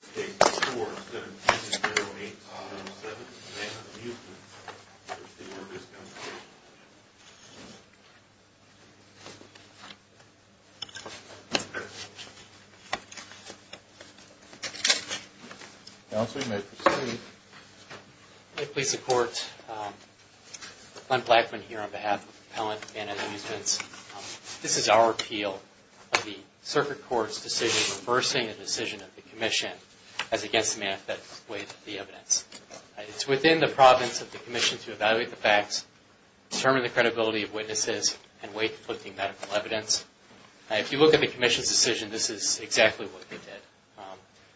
This case is 4-7-2-0-8-7, Havana Amusement v. The Workers' Compensation Commission. Counsel, you may proceed. May it please the Court, Glenn Blackman here on behalf of the appellant, Havana Amusement. This is our appeal of the Circuit Court's decision reversing a decision of the Commission as against the manifest ways of the evidence. It's within the province of the Commission to evaluate the facts, determine the credibility of witnesses, and weight the conflicting medical evidence. If you look at the Commission's decision, this is exactly what they did.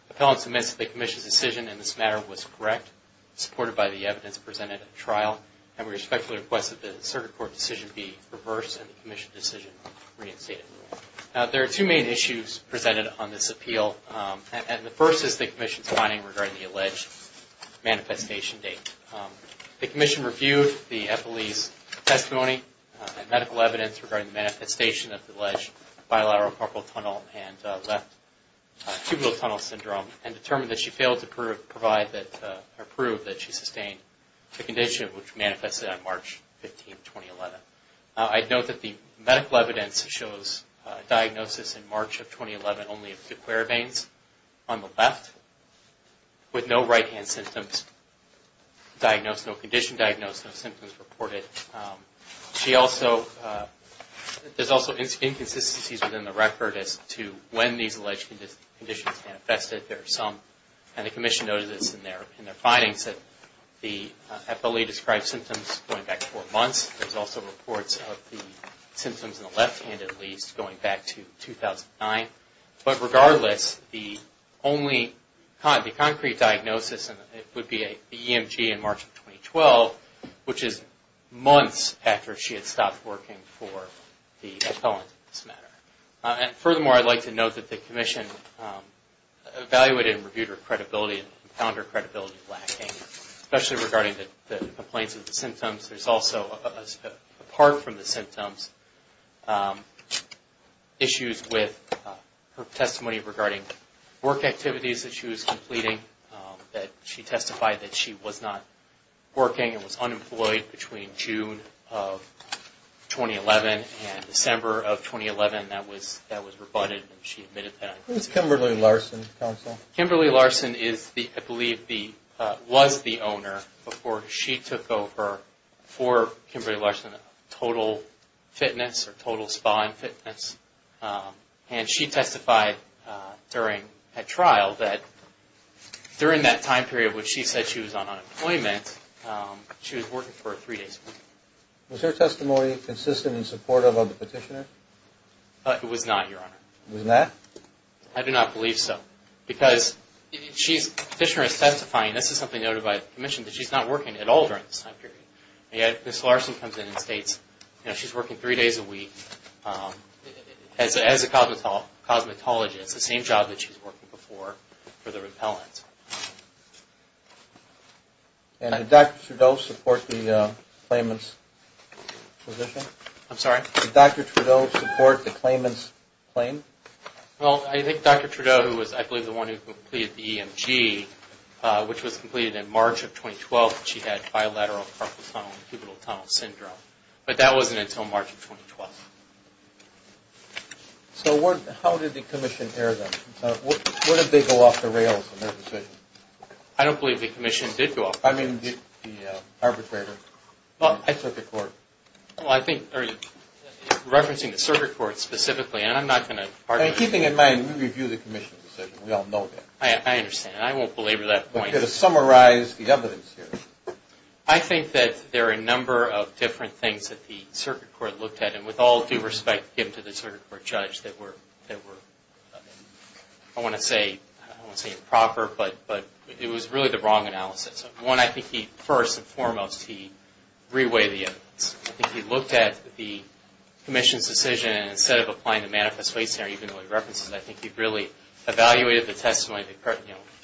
The appellant submits that the Commission's decision in this matter was correct, supported by the evidence presented at trial, and we respectfully request that the Circuit Court decision be reversed and the Commission decision reinstated. Now, there are two main issues presented on this appeal, and the first is the Commission's finding regarding the alleged manifestation date. The Commission reviewed the appellee's testimony and medical evidence regarding the manifestation of the alleged bilateral carpal tunnel and left cubital tunnel syndrome and determined that she failed to prove that she sustained the condition which manifested on March 15, 2011. I'd note that the medical evidence shows diagnosis in March of 2011 only of two cure veins on the left with no right-hand symptoms diagnosed, no condition diagnosed, no symptoms reported. There's also inconsistencies within the record as to when these alleged conditions manifested. There are some, and the Commission noted this in their findings, that the appellee described symptoms going back four months. There's also reports of the symptoms in the left hand at least going back to 2009. But regardless, the only concrete diagnosis would be an EMG in March of 2012, which is months after she had stopped working for the appellant in this matter. And furthermore, I'd like to note that the Commission evaluated and reviewed her credibility and found her credibility lacking, especially regarding the complaints of the symptoms. There's also, apart from the symptoms, issues with her testimony regarding work activities that she was completing, that she testified that she was not working and was unemployed between June of 2011 and December of 2011. That was rebutted and she admitted that. Who is Kimberly Larson, counsel? Kimberly Larson is the, I believe, was the owner before she took over for Kimberly Larson Total Fitness or Total Spa and Fitness. And she testified at trial that during that time period when she said she was on unemployment, she was working for a three-day school. Was her testimony consistent and supportive of the petitioner? It was not, Your Honor. It was not? I do not believe so. Because she's, petitioner is testifying, this is something noted by the Commission, that she's not working at all during this time period. And yet, Ms. Larson comes in and states, you know, she's working three days a week as a cosmetologist, the same job that she was working before for the appellant. And did Dr. Trudeau support the claimant's position? I'm sorry? Did Dr. Trudeau support the claimant's claim? Well, I think Dr. Trudeau, who was, I believe, the one who completed the EMG, which was completed in March of 2012, she had bilateral carpal tunnel and cubital tunnel syndrome. But that wasn't until March of 2012. So how did the Commission air them? What if they go off the rails in their decision? I don't believe the Commission did go off the rails. I mean, the arbitrator. I took the court. Well, I think, referencing the circuit court specifically, and I'm not going to argue. Keeping in mind, we review the Commission's decision. We all know that. I understand. I won't belabor that point. But to summarize the evidence here. I think that there are a number of different things that the circuit court looked at, and with all due respect, given to the circuit court judge, that were, I want to say, I don't want to say improper, but it was really the wrong analysis. One, I think he, first and foremost, he reweighed the evidence. I think he looked at the Commission's decision, and instead of applying the manifest case there, even though he references it, I think he really evaluated the testimony, the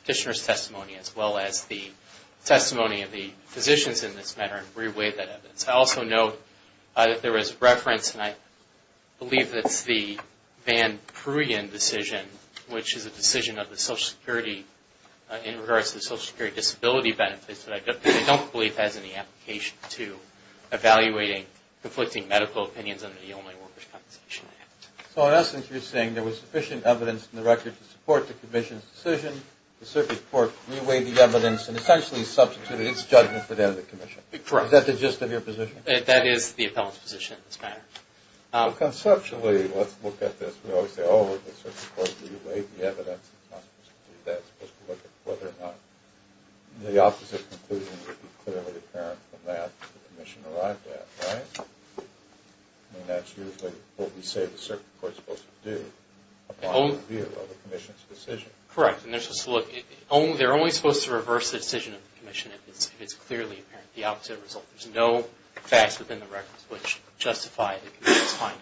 petitioner's testimony, as well as the testimony of the physicians in this matter, and reweighed that evidence. I also note that there was reference, and I believe it's the Van Pruyen decision, which is a decision of the Social Security, in regards to the Social Security disability benefits, that I don't believe has any application to evaluating conflicting medical opinions under the Only Workers Compensation Act. So, in essence, you're saying there was sufficient evidence in the record to support the Commission's decision, the circuit court reweighed the evidence, and essentially substituted its judgment for that of the Commission. Correct. Is that the gist of your position? That is the appellant's position in this matter. Well, conceptually, let's look at this. We always say, oh, the circuit court reweighed the evidence. It's not supposed to do that. It's supposed to look at whether or not the opposite conclusion would be clearly apparent from that, that the Commission arrived at, right? I mean, that's usually what we say the circuit court is supposed to do, upon review of the Commission's decision. Correct. And they're supposed to look – they're only supposed to reverse the decision of the Commission if it's clearly apparent, the opposite result. There's no facts within the records which justify the Commission's findings.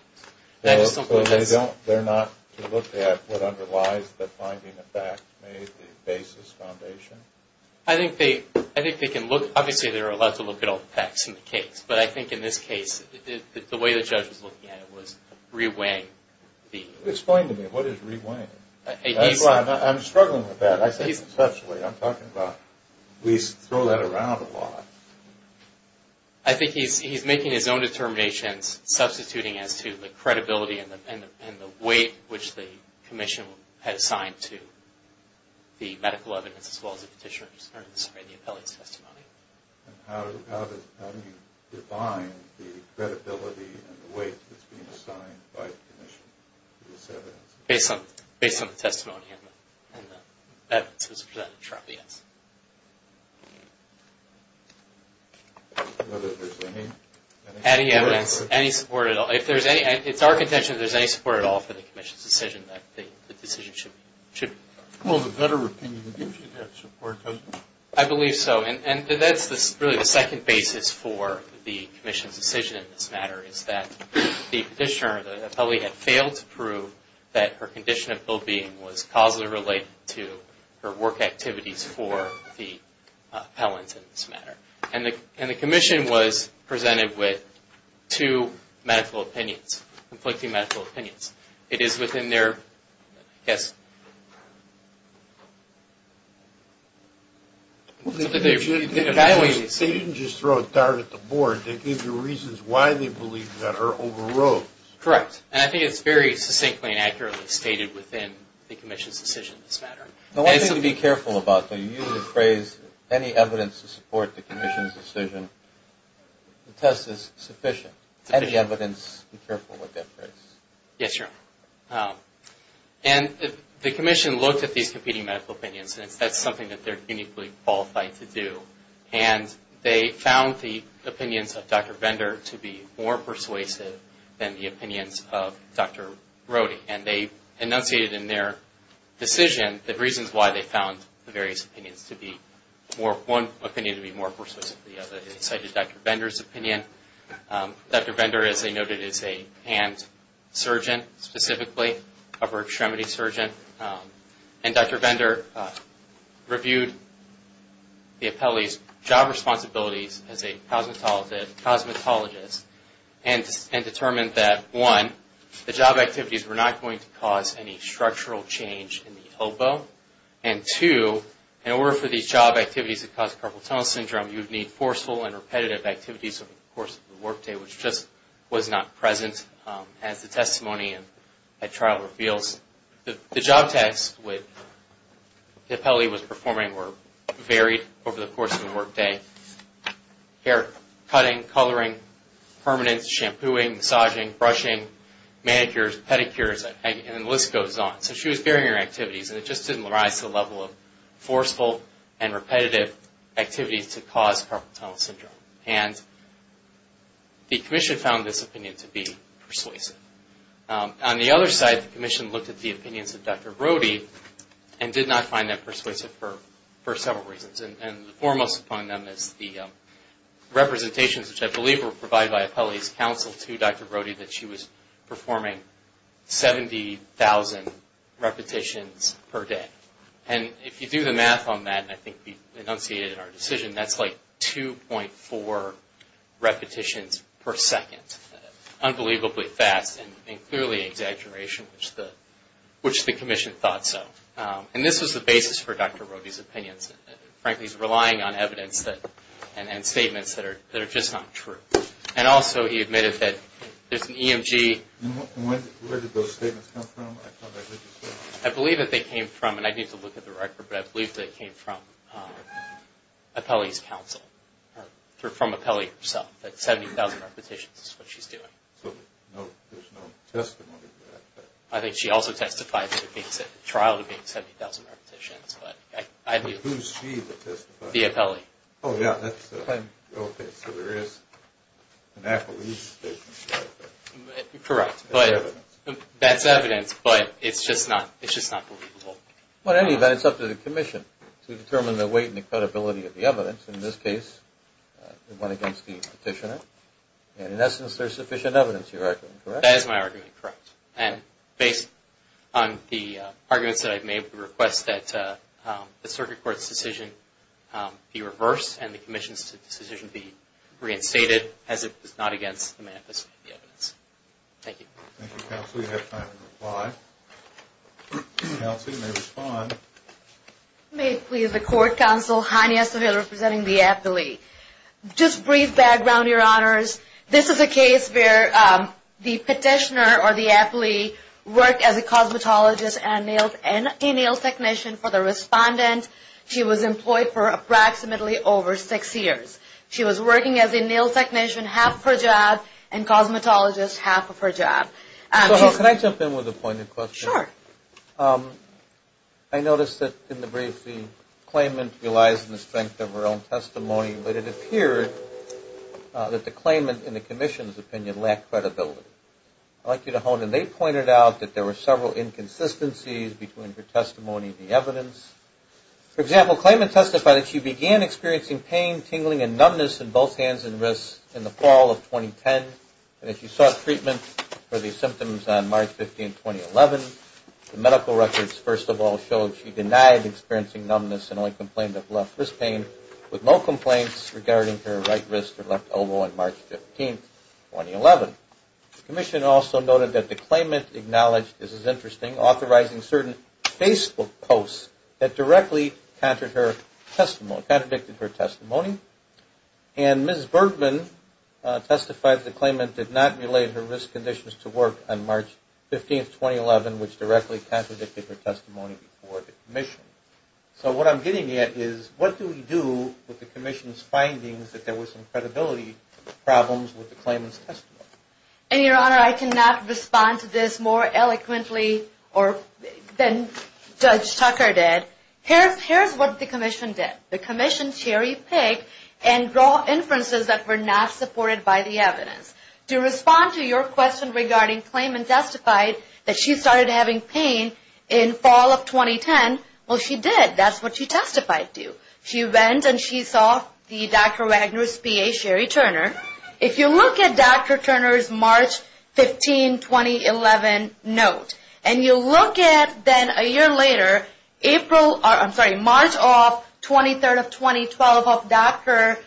So they're not to look at what underlies the finding of facts made the basis foundation? I think they can look – obviously, they're allowed to look at all the facts in the case. But I think in this case, the way the judge was looking at it was reweighing the – Explain to me. What is reweighing? I'm struggling with that. I'm talking about – we throw that around a lot. I think he's making his own determinations, substituting as to the credibility and the weight which the Commission had assigned to the medical evidence as well as the petitioner's – sorry, the appellee's testimony. And how do you define the credibility and the weight that's being assigned by the Commission to this evidence? Based on the testimony and the evidence presented to us. Any evidence? Any support at all? If there's any – it's our contention that there's any support at all for the Commission's decision that the decision should be – Well, the better opinion gives you that support, doesn't it? I believe so. And that's really the second basis for the Commission's decision in this matter is that the petitioner, the appellee, had failed to prove that her condition of well-being was causally related to her work activities for the appellant in this matter. And the Commission was presented with two medical opinions, conflicting medical opinions. It is within their – I guess – They didn't just throw a dart at the board. They gave you reasons why they believe that her overrode. Correct. And I think it's very succinctly and accurately stated within the Commission's decision in this matter. The one thing to be careful about, though, you use the phrase, any evidence to support the Commission's decision. The test is sufficient. Any evidence, be careful with that phrase. Yes, Your Honor. And the Commission looked at these competing medical opinions and that's something that they're uniquely qualified to do. And they found the opinions of Dr. Bender to be more persuasive than the opinions of Dr. Brody. And they enunciated in their decision the reasons why they found the various opinions to be more – one opinion to be more persuasive than the other. They cited Dr. Bender's opinion. Dr. Bender, as they noted, is a hand surgeon specifically, upper extremity surgeon. And Dr. Bender reviewed the appellee's job responsibilities as a cosmetologist and determined that, one, the job activities were not going to cause any structural change in the elbow. And two, in order for these job activities to cause carpal tunnel syndrome, you would need forceful and repetitive activities over the course of the work day, which just was not present as the testimony at trial reveals. The job tasks the appellee was performing were varied over the course of the work day. Hair cutting, coloring, permanence, shampooing, massaging, brushing, manicures, pedicures, and the list goes on. So she was varying her activities and it just didn't rise to the level of forceful and repetitive activities to cause carpal tunnel syndrome. And the Commission found this opinion to be persuasive. On the other side, the Commission looked at the opinions of Dr. Brody and did not find them persuasive for several reasons. And foremost upon them is the representations, which I believe were provided by appellee's counsel to Dr. Brody, that she was performing 70,000 repetitions per day. And if you do the math on that, and I think we enunciated in our decision, that's like 2.4 repetitions per second. Unbelievably fast and clearly an exaggeration, which the Commission thought so. And this was the basis for Dr. Brody's opinions. Frankly, he's relying on evidence and statements that are just not true. And also he admitted that there's an EMG. And where did those statements come from? I believe that they came from, and I need to look at the record, but I believe that they came from appellee's counsel. From appellee herself. That 70,000 repetitions is what she's doing. So there's no testimony to that? I think she also testified in the trial to being 70,000 repetitions. Who's she that testified? The appellee. Oh, yeah. Okay, so there is an appellee's statement. Correct. That's evidence. But it's just not believable. Well, in any event, it's up to the Commission to determine the weight and the credibility of the evidence. In this case, it went against the petitioner. And in essence, there's sufficient evidence, you reckon, correct? That is my argument, correct. And based on the arguments that I've made, we request that the Circuit Court's decision be reversed and the Commission's decision be reinstated as if it's not against the manifest evidence. Thank you. Thank you, Counsel. We have time for reply. Counsel, you may respond. May it please the Court, Counsel Hania Sohail representing the appellee. Just brief background, Your Honors. This is a case where the petitioner or the appellee worked as a cosmetologist and a nail technician for the respondent. She was employed for approximately over six years. She was working as a nail technician, half of her job, and cosmetologist, half of her job. Sohail, can I jump in with a point of question? Sure. I noticed that in the brief, the claimant relies on the strength of her own testimony, but it appeared that the claimant, in the Commission's opinion, lacked credibility. I'd like you to hone in. They pointed out that there were several inconsistencies between her testimony and the evidence. For example, claimant testified that she began experiencing pain, tingling, and numbness in both hands and wrists in the fall of 2010, and that she sought treatment for the symptoms on March 15, 2011. The medical records, first of all, showed she denied experiencing numbness and only complained of left wrist pain, with no complaints regarding her right wrist or left elbow on March 15, 2011. The Commission also noted that the claimant acknowledged, this is interesting, authorizing certain Facebook posts that directly contradicted her testimony. And Ms. Bergman testified that the claimant did not relate her wrist conditions to work on March 15, 2011, which directly contradicted her testimony before the Commission. So what I'm getting at is, what do we do with the Commission's findings that there was some credibility problems with the claimant's testimony? And, Your Honor, I cannot respond to this more eloquently than Judge Tucker did. Here's what the Commission did. The Commission cherry-picked and drew inferences that were not supported by the evidence. To respond to your question regarding claimant testified that she started having pain in fall of 2010, well, she did. That's what she testified to. She went and she saw the Dr. Wagner's PA, Sherry Turner. If you look at Dr. Turner's March 15, 2011 note, and you look at then a year later, April, I'm sorry, March of 23rd of 2012 of Dr.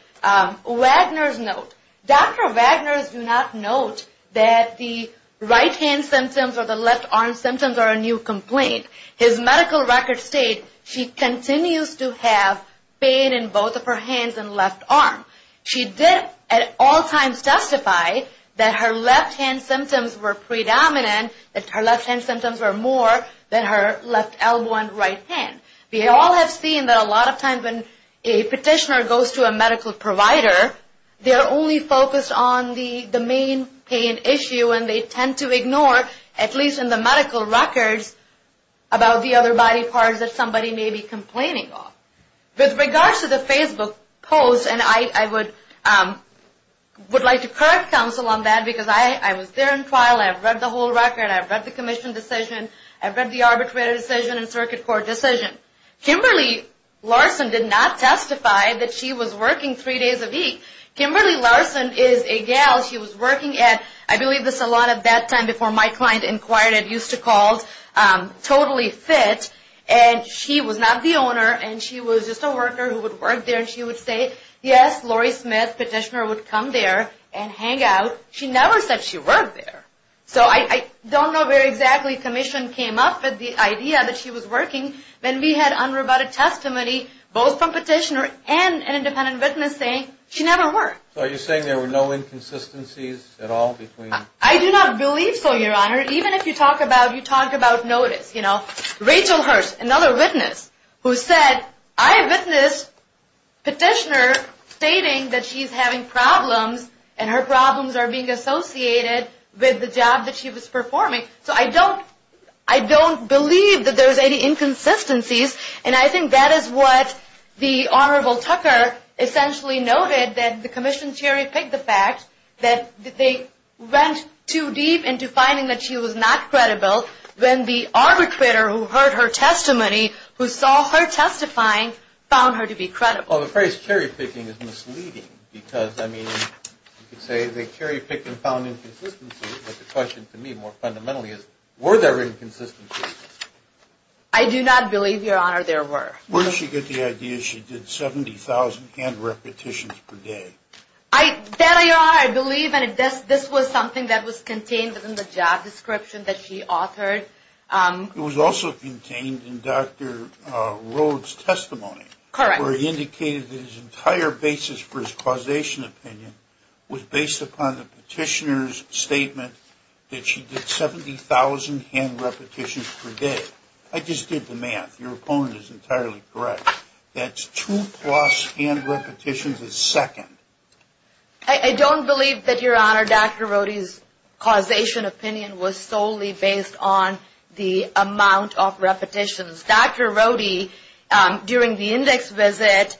Wagner's note, Dr. Wagner's do not note that the right-hand symptoms or the left-arm symptoms are a new complaint. His medical records state she continues to have pain in both of her hands and left arm. She did at all times testify that her left-hand symptoms were predominant, that her left-hand symptoms were more than her left elbow and right hand. We all have seen that a lot of times when a petitioner goes to a medical provider, they are only focused on the main pain issue, and they tend to ignore, at least in the medical records, about the other body parts that somebody may be complaining of. With regards to the Facebook post, and I would like to correct counsel on that because I was there in trial, I've read the whole record, I've read the commission decision, I've read the arbitrary decision and circuit court decision. Kimberly Larson did not testify that she was working three days a week. Kimberly Larson is a gal. She was working at, I believe, the salon at that time before my client inquired and used to call, Totally Fit, and she was not the owner, and she was just a worker who would work there, and she would say, yes, Lori Smith, petitioner, would come there and hang out. She never said she worked there. So I don't know where exactly commission came up with the idea that she was working when we had unrebutted testimony, both from petitioner and an independent witness saying she never worked. So are you saying there were no inconsistencies at all between? I do not believe so, Your Honor. Even if you talk about, you talk about notice. Rachel Hearst, another witness, who said, I witnessed petitioner stating that she's having problems, and her problems are being associated with the job that she was performing. So I don't believe that there's any inconsistencies, and I think that is what the Honorable Tucker essentially noted, that the commission cherry-picked the fact that they went too deep into finding that she was not credible when the arbitrator who heard her testimony, who saw her testifying, found her to be credible. Well, the phrase cherry-picking is misleading because, I mean, you could say they cherry-picked and found inconsistencies, but the question to me more fundamentally is, were there inconsistencies? I do not believe, Your Honor, there were. Where did she get the idea she did 70,000 hand repetitions per day? There they are, I believe. And this was something that was contained in the job description that she authored. It was also contained in Dr. Rhodes' testimony. Correct. Where he indicated that his entire basis for his causation opinion was based upon the petitioner's statement that she did 70,000 hand repetitions per day. I just did the math. Your opponent is entirely correct. That's two-plus hand repetitions a second. I don't believe that, Your Honor, Dr. Rhodes' causation opinion was solely based on the amount of repetitions. Dr. Rhodes, during the index visit,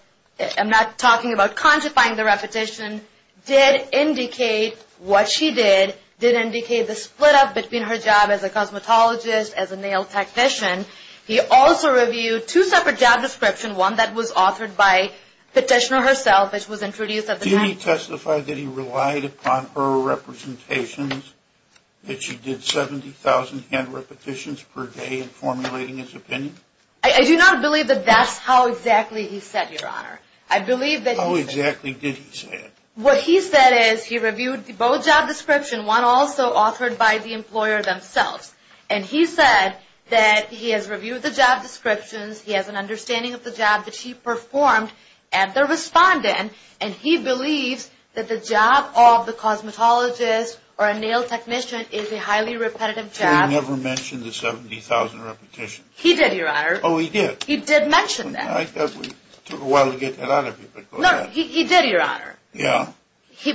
I'm not talking about quantifying the repetition, did indicate what she did, did indicate the split up between her job as a cosmetologist, as a nail technician. He also reviewed two separate job descriptions, one that was authored by the petitioner herself, which was introduced at the time. Did he testify that he relied upon her representations, that she did 70,000 hand repetitions per day in formulating his opinion? I do not believe that that's how exactly he said, Your Honor. How exactly did he say it? What he said is he reviewed both job descriptions, one also authored by the employer themselves. And he said that he has reviewed the job descriptions, he has an understanding of the job that she performed at the respondent, and he believes that the job of the cosmetologist or a nail technician is a highly repetitive job. So he never mentioned the 70,000 repetitions? He did, Your Honor. Oh, he did? He did mention that. I thought we took a while to get that out of you, but go ahead. No, he did, Your Honor. Yeah.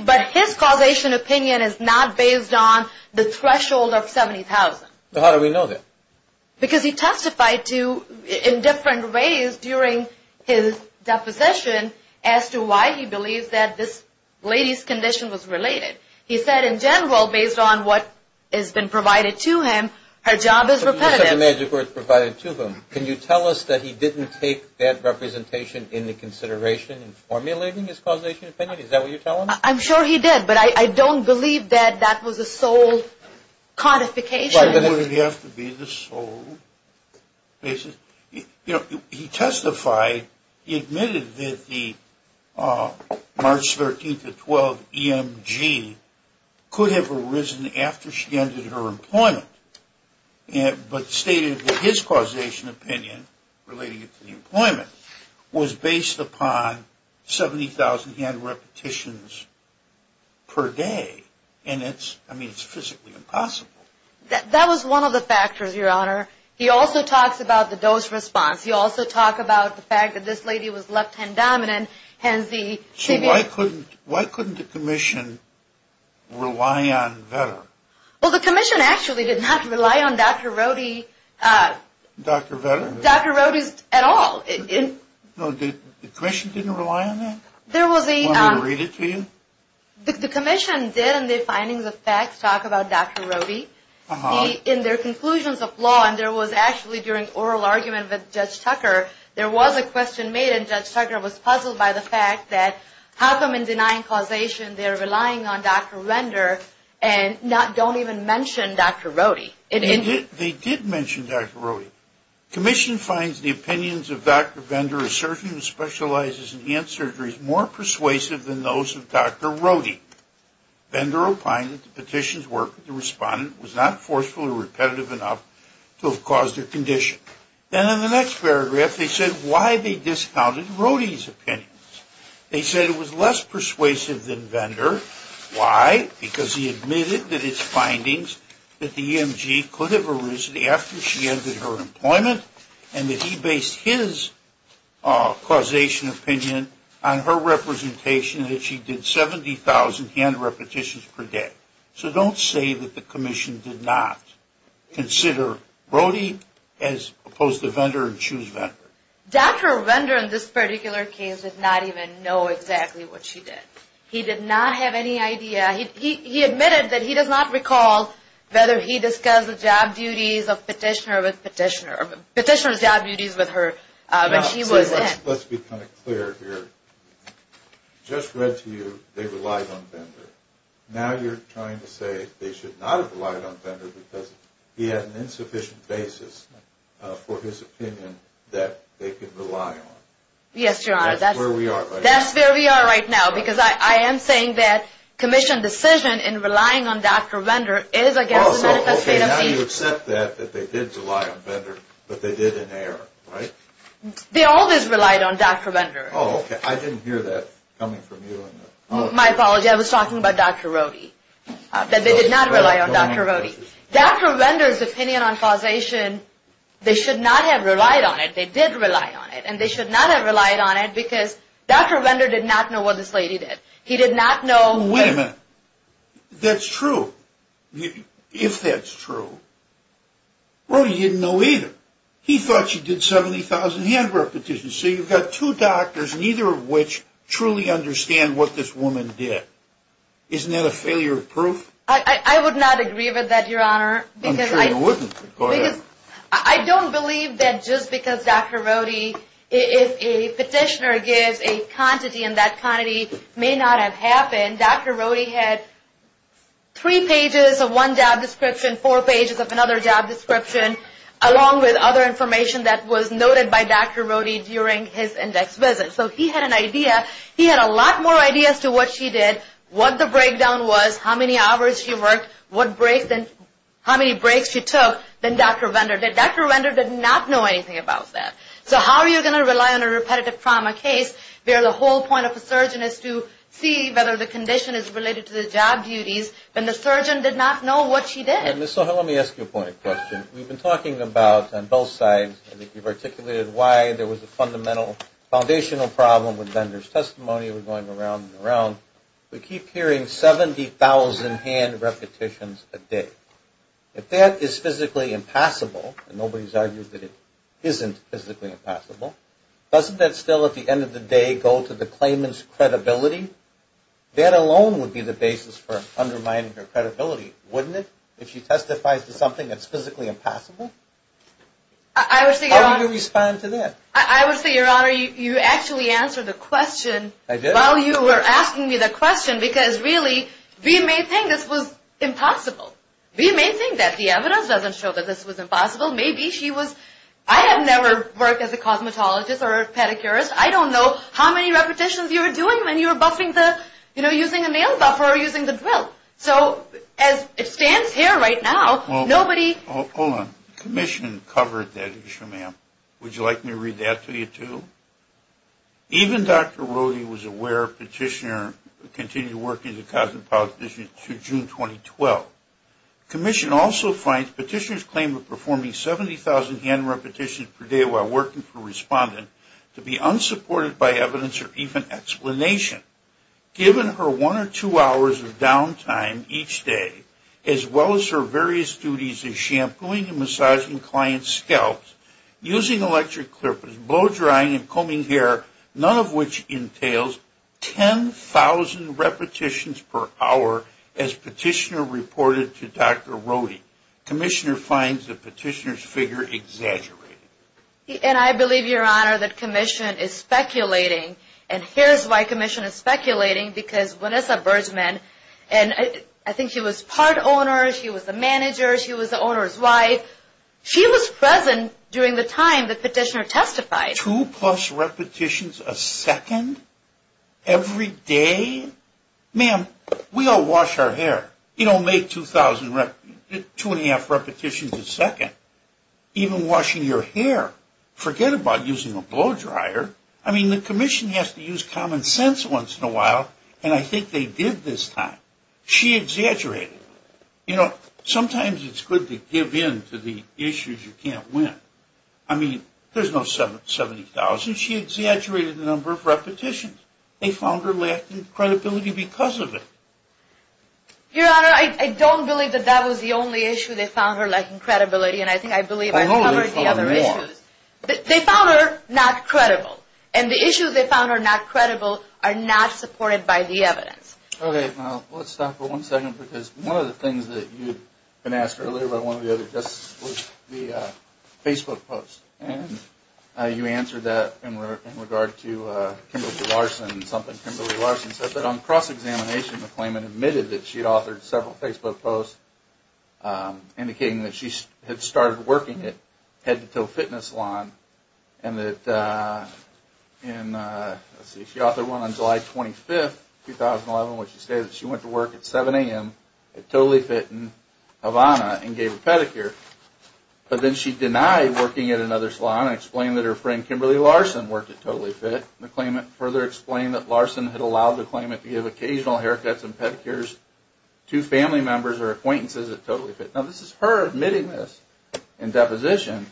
But his causation opinion is not based on the threshold of 70,000. How do we know that? Because he testified in different ways during his deposition as to why he believes that this lady's condition was related. He said, in general, based on what has been provided to him, her job is repetitive. Such a major group provided to him. Can you tell us that he didn't take that representation into consideration in formulating his causation opinion? Is that what you're telling me? I'm sure he did, but I don't believe that that was a sole codification. Why would it have to be the sole basis? You know, he testified, he admitted that the March 13th to 12th EMG could have arisen after she ended her employment, but stated that his causation opinion, relating it to the employment, was based upon 70,000 hand repetitions per day. And it's, I mean, it's physically impossible. That was one of the factors, Your Honor. He also talks about the dose response. He also talked about the fact that this lady was left-hand dominant. So why couldn't the commission rely on Vetter? Well, the commission actually did not rely on Dr. Rohde. Dr. Vetter? Dr. Rohde at all. No, the commission didn't rely on that? There was a... Want me to read it to you? The commission did, in their findings of facts, talk about Dr. Rohde. In their conclusions of law, and there was actually, during oral argument with Judge Tucker, there was a question made, and Judge Tucker was puzzled by the fact that how come in denying causation, they're relying on Dr. Vetter and don't even mention Dr. Rohde? They did mention Dr. Rohde. Commission finds the opinions of Dr. Vetter, a surgeon who specializes in hand surgeries, more persuasive than those of Dr. Rohde. Vetter opined that the petition's work with the respondent was not forcefully repetitive enough to have caused her condition. Then in the next paragraph, they said why they discounted Rohde's opinions. They said it was less persuasive than Vetter. Why? Because he admitted that his findings that the EMG could have arisen after she ended her employment and that he based his causation opinion on her representation and that she did 70,000 hand repetitions per day. So don't say that the commission did not consider Rohde as opposed to Vetter and choose Vetter. Dr. Vetter, in this particular case, did not even know exactly what she did. He did not have any idea. He admitted that he does not recall whether he discussed the petitioner's job duties with her when she was in. Let's be kind of clear here. I just read to you they relied on Vetter. Now you're trying to say they should not have relied on Vetter because he had an insufficient basis for his opinion that they could rely on. Yes, Your Honor. That's where we are right now. Because I am saying that the commission's decision in relying on Dr. Vetter is against the medical state of the issue. Now you accept that they did rely on Vetter, but they did in error, right? They always relied on Dr. Vetter. Oh, okay. I didn't hear that coming from you. My apology. I was talking about Dr. Rohde, that they did not rely on Dr. Rohde. Dr. Vetter's opinion on causation, they should not have relied on it. And they should not have relied on it because Dr. Vetter did not know what this lady did. He did not know. Wait a minute. That's true. If that's true, Rohde didn't know either. He thought she did 70,000 handwork petitions. So you've got two doctors, neither of which truly understand what this woman did. Isn't that a failure of proof? I would not agree with that, Your Honor. I'm sure you wouldn't. Go ahead. I don't believe that just because Dr. Rohde, if a petitioner gives a quantity and that quantity may not have happened, Dr. Rohde had three pages of one job description, four pages of another job description, along with other information that was noted by Dr. Rohde during his index visit. So he had an idea. He had a lot more ideas to what she did, what the breakdown was, how many hours she worked, what breaks and how many breaks she took than Dr. Vetter did. Dr. Vetter did not know anything about that. So how are you going to rely on a repetitive trauma case where the whole point of a surgeon is to see whether the condition is related to the job duties when the surgeon did not know what she did? Ms. Soha, let me ask you a point of question. We've been talking about, on both sides, I think you've articulated why there was a fundamental foundational problem with Vetter's testimony. We're going around and around. We keep hearing 70,000 hand repetitions a day. If that is physically impassable, and nobody's argued that it isn't physically impassable, doesn't that still, at the end of the day, go to the claimant's credibility? That alone would be the basis for undermining her credibility, wouldn't it, if she testifies to something that's physically impassable? How do you respond to that? I would say, Your Honor, you actually answered the question. I did? Well, you were asking me the question because, really, we may think this was impossible. We may think that the evidence doesn't show that this was impossible. Maybe she was – I have never worked as a cosmetologist or a pedicurist. I don't know how many repetitions you were doing when you were buffing the – you know, using a nail buffer or using the drill. So as it stands here right now, nobody – Hold on. The commission covered that issue, ma'am. Would you like me to read that to you, too? Even Dr. Rohde was aware Petitioner continued working as a cosmetologist through June 2012. The commission also finds Petitioner's claim of performing 70,000 hand repetitions per day while working for a respondent to be unsupported by evidence or even explanation. Given her one or two hours of downtime each day, as well as her various duties as shampooing and massaging clients' scalps, using electric clippers, blow-drying and combing hair, none of which entails 10,000 repetitions per hour as Petitioner reported to Dr. Rohde, Commissioner finds the Petitioner's figure exaggerated. And I believe, Your Honor, that Commission is speculating. And here's why Commission is speculating, because Vanessa Bergman – and I think she was part owner, she was the manager, she was the owner's wife – she was present during the time that Petitioner testified. Two plus repetitions a second? Every day? Ma'am, we all wash our hair. You don't make 2,000 – 2 1⁄2 repetitions a second even washing your hair. Forget about using a blow-dryer. I mean, the Commission has to use common sense once in a while, and I think they did this time. She exaggerated. You know, sometimes it's good to give in to the issues you can't win. I mean, there's no 70,000. She exaggerated the number of repetitions. They found her lacking credibility because of it. Your Honor, I don't believe that that was the only issue. They found her lacking credibility, and I think I believe I covered the other issues. They found her not credible. And the issues they found her not credible are not supported by the evidence. Okay. Well, let's stop for one second because one of the things that you had been asked earlier by one of the other justices was the Facebook post, and you answered that in regard to Kimberly Larson and something Kimberly Larson said. But on cross-examination, the claimant admitted that she had authored several Facebook posts indicating that she had started working at Head to Toe Fitness Salon, and that in, let's see, she authored one on July 25th, 2011, where she stated that she went to work at 7 a.m. at Totally Fit in Havana and gave a pedicure. But then she denied working at another salon and explained that her friend Kimberly Larson worked at Totally Fit. The claimant further explained that Larson had allowed the claimant to give occasional haircuts and pedicures to family members or acquaintances at Totally Fit. Now, this is her admitting this in deposition.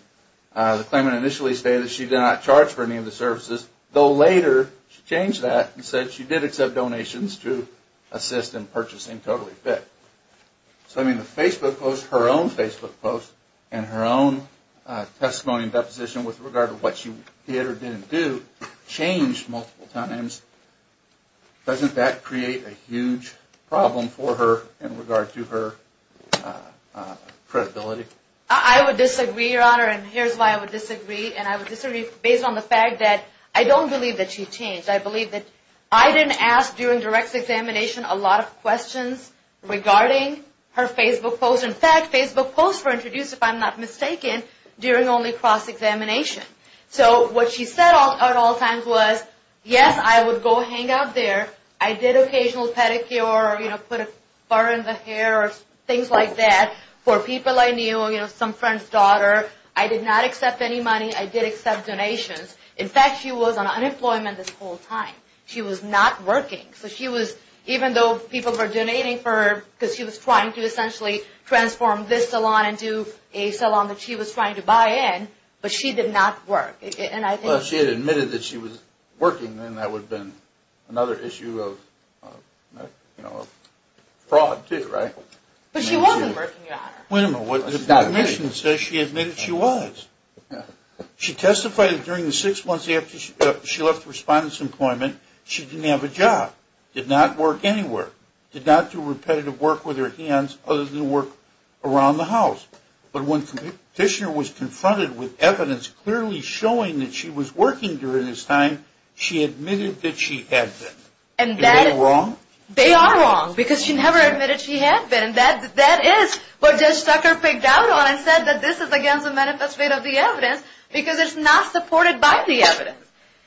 The claimant initially stated that she did not charge for any of the services, though later she changed that and said she did accept donations to assist in purchasing Totally Fit. So, I mean, the Facebook post, her own Facebook post, and her own testimony and deposition with regard to what she did or didn't do changed multiple times. Doesn't that create a huge problem for her in regard to her credibility? I would disagree, Your Honor, and here's why I would disagree. And I would disagree based on the fact that I don't believe that she changed. I believe that I didn't ask during direct examination a lot of questions regarding her Facebook post. In fact, Facebook posts were introduced, if I'm not mistaken, during only cross-examination. So, what she said at all times was, yes, I would go hang out there. I did occasional pedicure or, you know, put a bar in the hair or things like that for people I knew or, you know, some friend's daughter. I did not accept any money. I did accept donations. In fact, she was on unemployment this whole time. She was not working. So, she was, even though people were donating for her because she was trying to essentially transform this salon into a salon that she was trying to buy in, but she did not work. Well, if she had admitted that she was working, then that would have been another issue of, you know, fraud too, right? But she wasn't working, Your Honor. Wait a minute. The admission says she admitted she was. She testified that during the six months after she left the respondent's employment, she didn't have a job, did not work anywhere, did not do repetitive work with her hands other than work around the house. But when the petitioner was confronted with evidence clearly showing that she was working during this time, she admitted that she had been. Is that wrong? They are wrong because she never admitted she had been. That is what Judge Zucker picked out on and said that this is against the manifesto of the evidence because it's not supported by the evidence.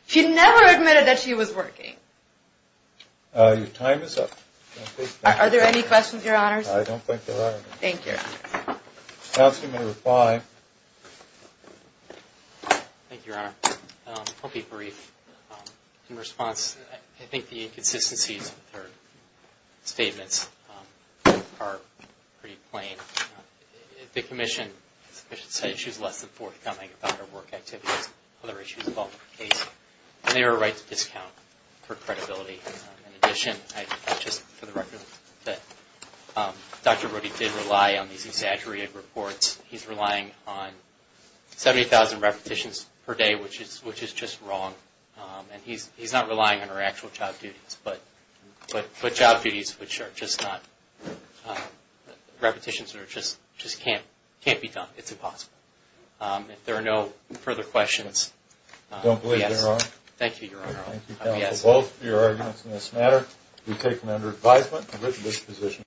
She never admitted that she was working. Your time is up. Are there any questions, Your Honors? I don't think there are any. Thank you. Counselor, you may reply. Thank you, Your Honor. I'll be brief. In response, I think the inconsistencies of her statements are pretty plain. The Commission, I should say, issues less than forthcoming about her work activities, other issues involved in the case, and they were right to discount her credibility. In addition, I just, for the record, that Dr. Brody did rely on these exaggerated reports. He's relying on 70,000 repetitions per day, which is just wrong, and he's not relying on her actual job duties. But job duties, which are just not repetitions, just can't be done. It's impossible. If there are no further questions, yes. I don't believe there are. Thank you, Your Honor. Thank you, Counsel. Both of your arguments in this matter have been taken under advisement. I've written this position down.